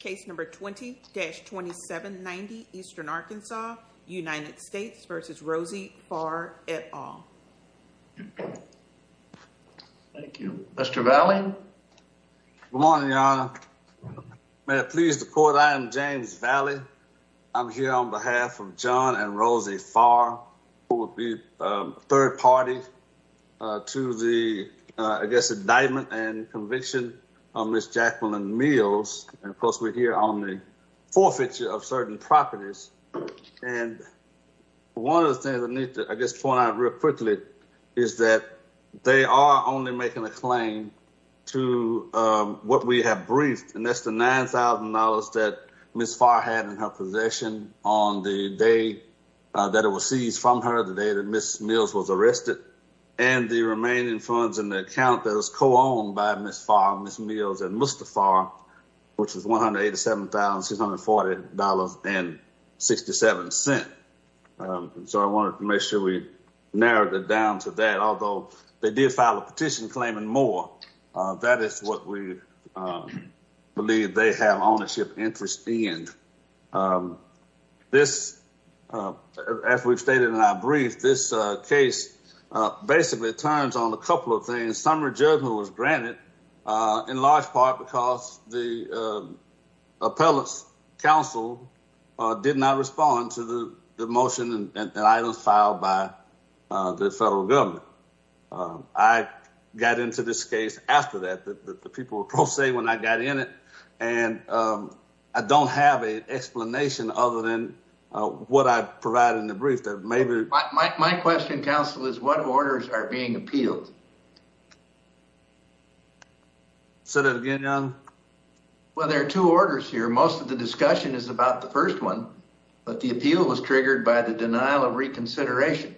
Case number 20-2790 Eastern Arkansas, United States v. Rosie Farr et al. Thank you. Mr. Valley? Good morning, Your Honor. May I please report, I am James Valley. I'm here on behalf of John and Rosie Farr, who will be third party to the, I guess, indictment and conviction of Ms. Jacqueline Mills. And of course, we're here on the forfeiture of certain properties. And one of the things I need to, I guess, point out real quickly is that they are only making a claim to what we have briefed. And that's the $9,000 that Ms. Farr had in her possession on the day that it was seized from her, the day that it was co-owned by Ms. Farr, Ms. Mills, and Mr. Farr, which was $187,640.67. So I wanted to make sure we narrowed it down to that, although they did file a petition claiming more. That is what we believe they have ownership interest in. This, as we've stated in our briefing, was granted in large part because the appellate's counsel did not respond to the motion and items filed by the federal government. I got into this case after that, that the people will say when I got in it, and I don't have a explanation other than what I provided in the brief that maybe... My question, counsel, is what orders are being appealed? Say that again, John? Well, there are two orders here. Most of the discussion is about the first one, but the appeal was triggered by the denial of reconsideration.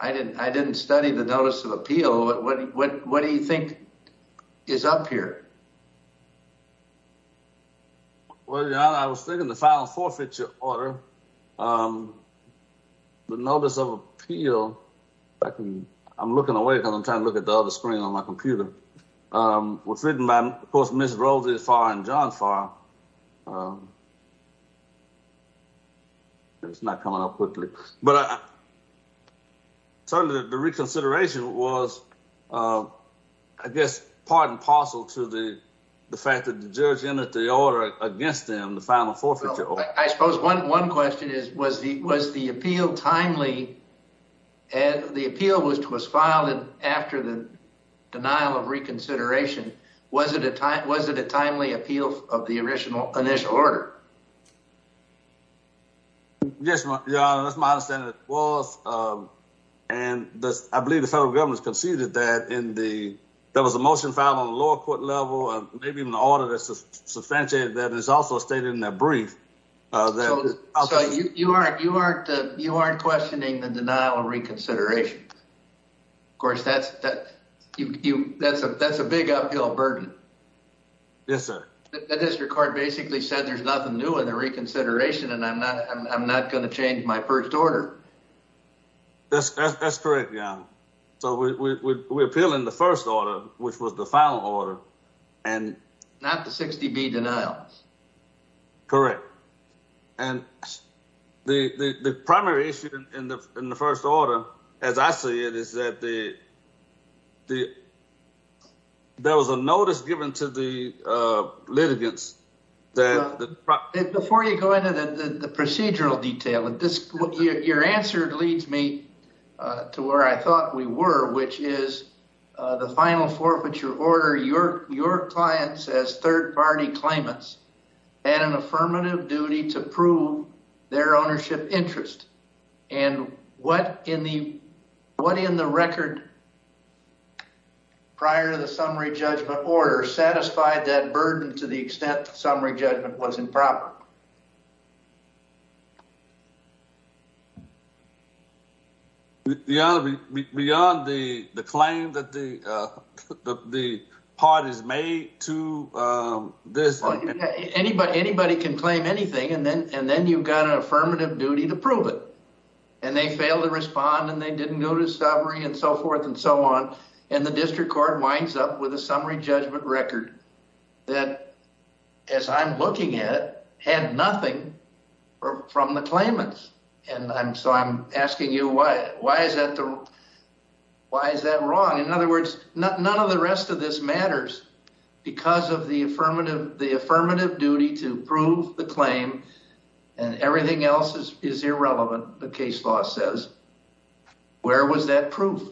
I didn't study the notice of appeal, but what do you think is up here? Well, John, I was thinking the final forfeiture order, the notice of appeal... I'm looking away because I'm trying to look at the other screen on my computer. It was written by, of course, Ms. Roses Farr and John Farr. It's not coming up quickly, but certainly the reconsideration was, I guess, part and parcel to the fact that the judge entered the order against them, the final forfeiture order. Well, I suppose one question is, was the appeal timely? The appeal was filed after the denial of reconsideration. Was it a timely appeal of the initial order? Yes, Your Honor, that's my understanding it was. I believe the federal government conceded that there was a motion filed on the lower court level, maybe an order that substantiated that, and it's also stated in that brief. You aren't questioning the denial of reconsideration? Of course, that's a big uphill burden. Yes, sir. The district court basically said there's nothing new in the reconsideration, and I'm not going to change my first order. That's correct, Your Honor. So, we appeal in the first order, which was the final order, and... Not the 60B denials. Correct. And the primary issue in the first order, as I see it, is that there was a notice given to the litigants that... Before you go into the procedural detail, your answer leads me to where I thought we were, which is the final forfeiture order, your clients as third-party claimants had an affirmative duty to prove their ownership interest, and what in the record prior to the summary judgment order satisfied that burden to the extent the summary judgment was improper? Your Honor, beyond the claim that the parties made to this... Anybody can claim anything, and then you've got an affirmative duty to prove it. And they failed to respond, and they didn't go to summary, and so forth and so on, and the district court winds up with a summary judgment record that, as I'm looking at it, had nothing from the claimants. And so, I'm asking you, why is that wrong? In other words, none of the rest of this matters because of the affirmative duty to prove the claim, and everything else is irrelevant, the case law says. Where was that proof?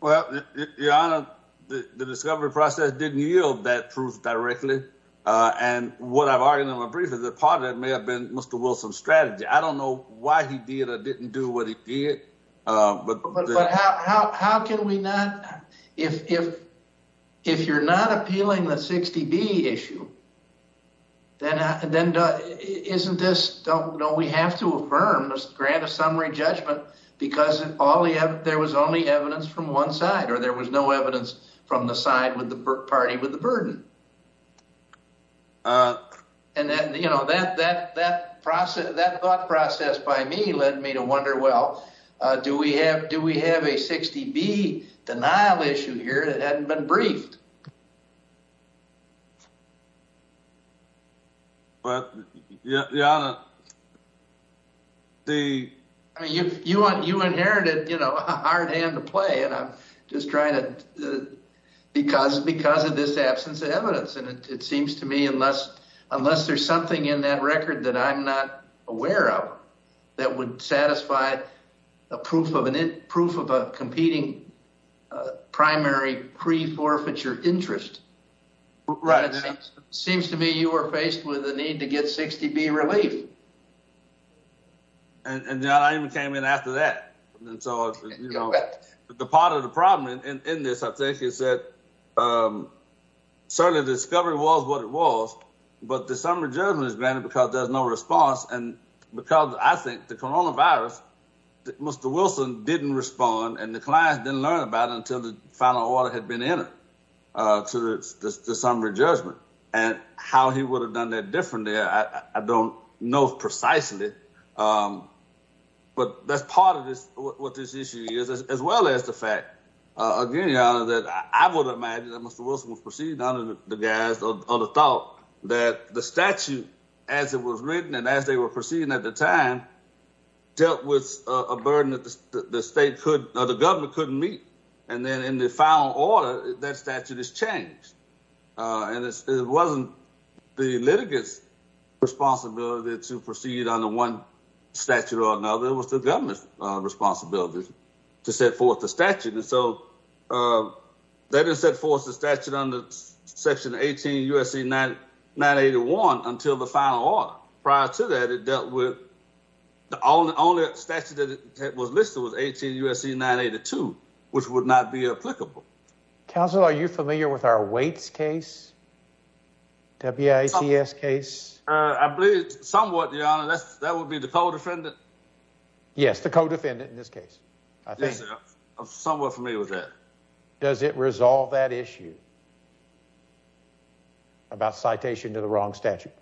Well, Your Honor, the discovery process didn't yield that proof directly, and what I've argued in my brief is that part of that may have been Mr. Wilson's strategy. I don't know why he did or didn't do what he did, but... But how can we not... If you're not appealing the 60B issue, then isn't this... Don't we have to affirm, grant a summary judgment, because there was only evidence from one side, or there was no evidence from the side with the party with the burden? And that thought process by me led me to wonder, well, do we have a 60B denial issue here that hadn't been briefed? Well, Your Honor, the... You inherited a hard hand to play, and I'm just trying to... Because of this absence of evidence, and it seems to me, unless there's something in that record that I'm not aware of that would satisfy a proof of a competing primary pre-forfeiture interest, it seems to me you were faced with a need to get 60B relief. And I even came in after that. And so, you know, the part of the problem in this, I think, is that certainly the discovery was what it was, but the summary judgment is granted because there's no response. And because, I think, the coronavirus, Mr. Wilson didn't respond, and the client didn't learn about it until the final order had been entered to the summary judgment. And how he would have done that differently, I don't know precisely. But that's part of what this issue is, as well as the fact, again, Your Honor, that I would imagine that Mr. Wilson was proceeding under the guise or the thought that the statute, as it was written and as they were proceeding at the time, dealt with a burden that the state could... The government couldn't meet. And then, in the final order, that statute is changed. And it wasn't the litigant's responsibility to proceed under one statute or another. It was the government's responsibility to set forth the statute. And so, they didn't set forth the statute under Section 18 U.S.C. 981 until the final order. Prior to that, it dealt with... The only statute that was listed was 18 U.S.C. 982, which would not be applicable. Counsel, are you familiar with our Waits case? W-I-T-S case? I believe somewhat, Your Honor. That would be the co-defendant. Yes, the co-defendant in this case, I think. Yes, sir. Somewhat familiar with that. Does it resolve that issue about citation to the wrong statute?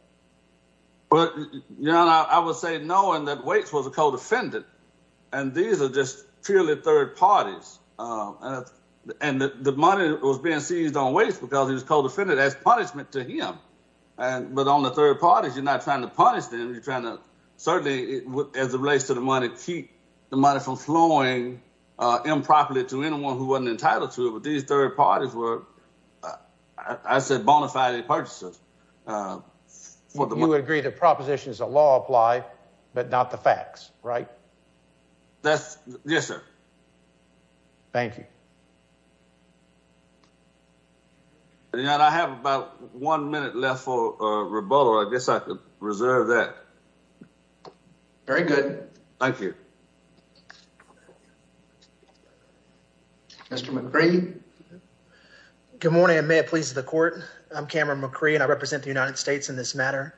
Well, Your Honor, I would say no, and that Waits was a co-defendant. And these are just purely third parties. And the money was being seized on Waits because he was co-defendant as punishment to him. But on the third parties, you're not trying to punish them. You're trying to... Certainly, as it relates to the money, keep the money from flowing improperly to anyone who wasn't entitled to it. But these third parties were, I said, bona fide purchasers. You would agree the propositions of law apply, but not the facts, right? That's... Yes, sir. Thank you. Your Honor, I have about one minute left for rebuttal. I guess I could reserve that. Very good. Thank you. Mr. McCree. Good morning, and may it please the Court. I'm Cameron McCree, and I represent the United States in this matter.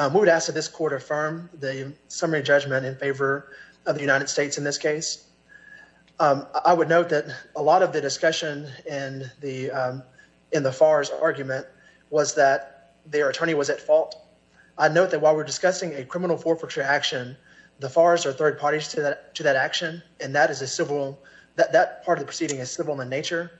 We would ask that this Court affirm the summary judgment in favor of the United States in this case. I would note that a lot of the discussion in the Fars argument was that their attorney was at fault. I note that while we're discussing a criminal forfeiture action, the Fars are third parties to that action, and that is a civil... That part of the proceeding is civil in nature.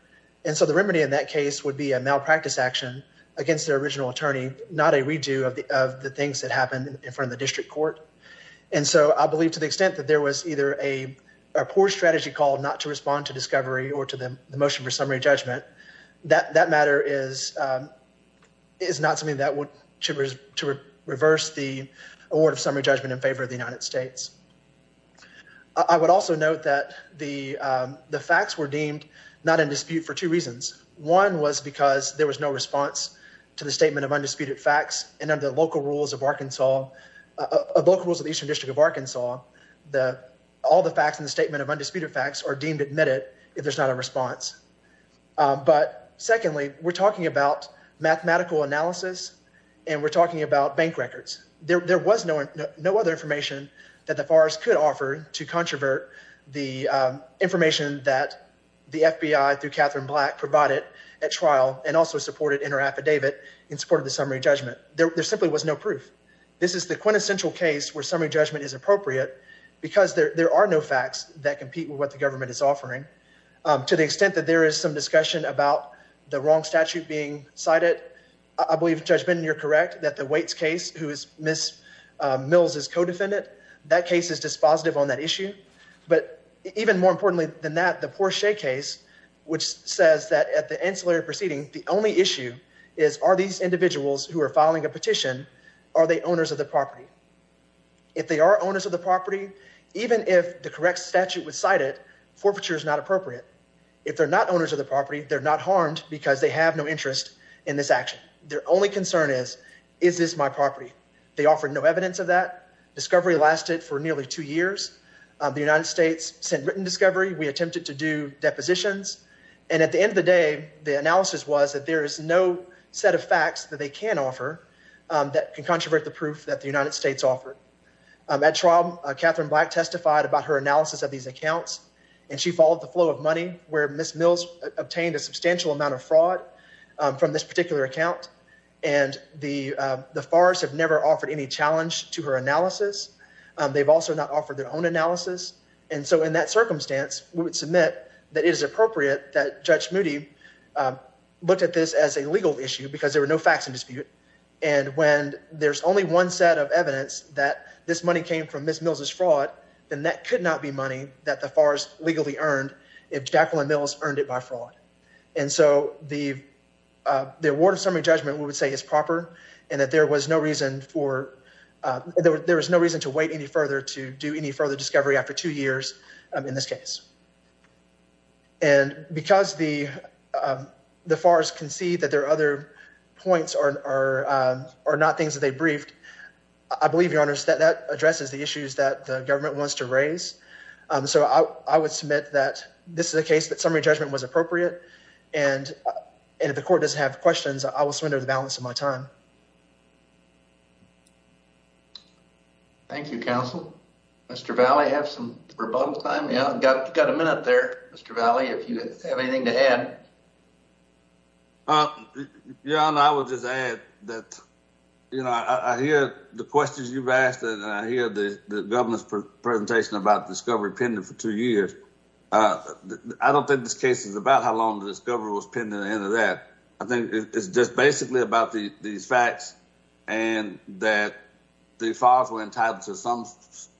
And so the remedy in that case would be a malpractice action against their original attorney, not a redo of the things that happened in front of the district court. And so I believe to the extent that there was either a poor strategy call not to respond to discovery or to the motion for summary judgment, that matter is not something that would... to reverse the award of summary judgment in favor of the United States. I would also note that the facts were deemed not in dispute for two reasons. One was because there was no response to the statement of undisputed facts, and under the local rules of the Eastern District of Arkansas, all the facts in the statement of undisputed facts are deemed admitted if there's not a response. But secondly, we're talking about mathematical analysis, and we're talking about bank records. There was no other information that the Fars could offer to controvert the information that the FBI through Katherine Black provided at trial and also supported in her affidavit in support of the summary judgment. There simply was no proof. This is the quintessential case where summary judgment is appropriate because there are no facts that compete with what the government is offering. To the extent that there is some discussion about the wrong statute being cited, I believe, Judge Benden, you're correct that the Waits case, who is Ms. Mills' co-defendant, that case is dispositive on that issue. But even more importantly than that, the Porsche case, which says that at the ancillary proceeding, the only issue is, are these individuals who are filing a petition, are they owners of the property? If they are owners of the property, even if the correct statute was cited, forfeiture is not appropriate. If they're not owners of the property, they're not harmed because they have no interest in this action. Their only concern is, is this my property? They offered no evidence of that. Discovery lasted for nearly two years. The United States sent written discovery. We attempted to do depositions. And at the end of the day, the analysis was that there is no set of facts that they can offer that can controvert the proof that the United States offered. At trial, Katherine Black testified about her analysis of these accounts, and she followed the flow of money, where Ms. Mills obtained a substantial amount of fraud from this particular account. And the Farrs have never offered any challenge to her analysis. They've also not offered their own analysis. And so in that circumstance, we would submit that it is appropriate that Judge Moody looked at this as a legal issue because there were no facts in dispute. And when there's only one set of evidence that this money came from Ms. Mills' fraud, then that could not be money that the Farrs legally earned if Jacqueline Mills earned it by fraud. And so the award of summary judgment, we would say, is proper. And that there was no reason to wait any further to do any further discovery after two years in this case. And because the Farrs concede that their other points are not things that they briefed, I believe, Your Honor, that that addresses the issues that the government wants to raise. So I would submit that this is a case that summary judgment was appropriate. And if the court does have questions, I will surrender the balance of my time. Thank you, counsel. Mr. Valle, you have some rebuttal time? Yeah. Got a minute there, Mr. Valle, if you have anything to add. Your Honor, I would just add that, you know, I hear the questions you've asked, and I hear the government's presentation about discovery pending for two years. I don't think this case is about how long the discovery was pending or that. I think it's just basically about these facts and that the Farrs were entitled to some,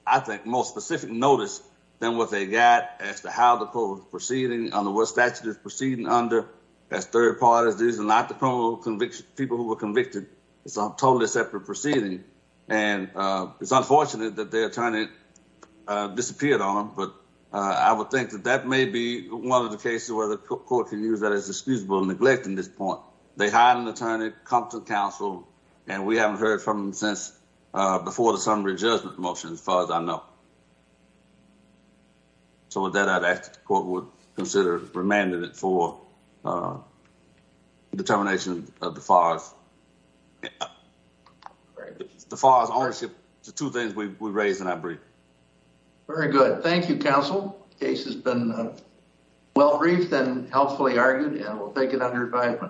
I think, more specific notice than what they got as to how the court was proceeding, under what statute it was proceeding under as third parties. These are not the people who were convicted. It's a totally separate proceeding. And it's unfortunate that their attorney disappeared on them, but I would think that that may be one of the cases where the court can use that as excusable neglect in this point. They hired an attorney, come to counsel, and we haven't heard from them since before the summary judgment motion, as far as I know. So with that, I'd ask that the court would consider remanding it for determination of the Farrs. The Farrs ownership, the two things we raised in our briefing. Very good. Thank you, counsel. The case has been well briefed and helpfully argued, and we'll take it under review.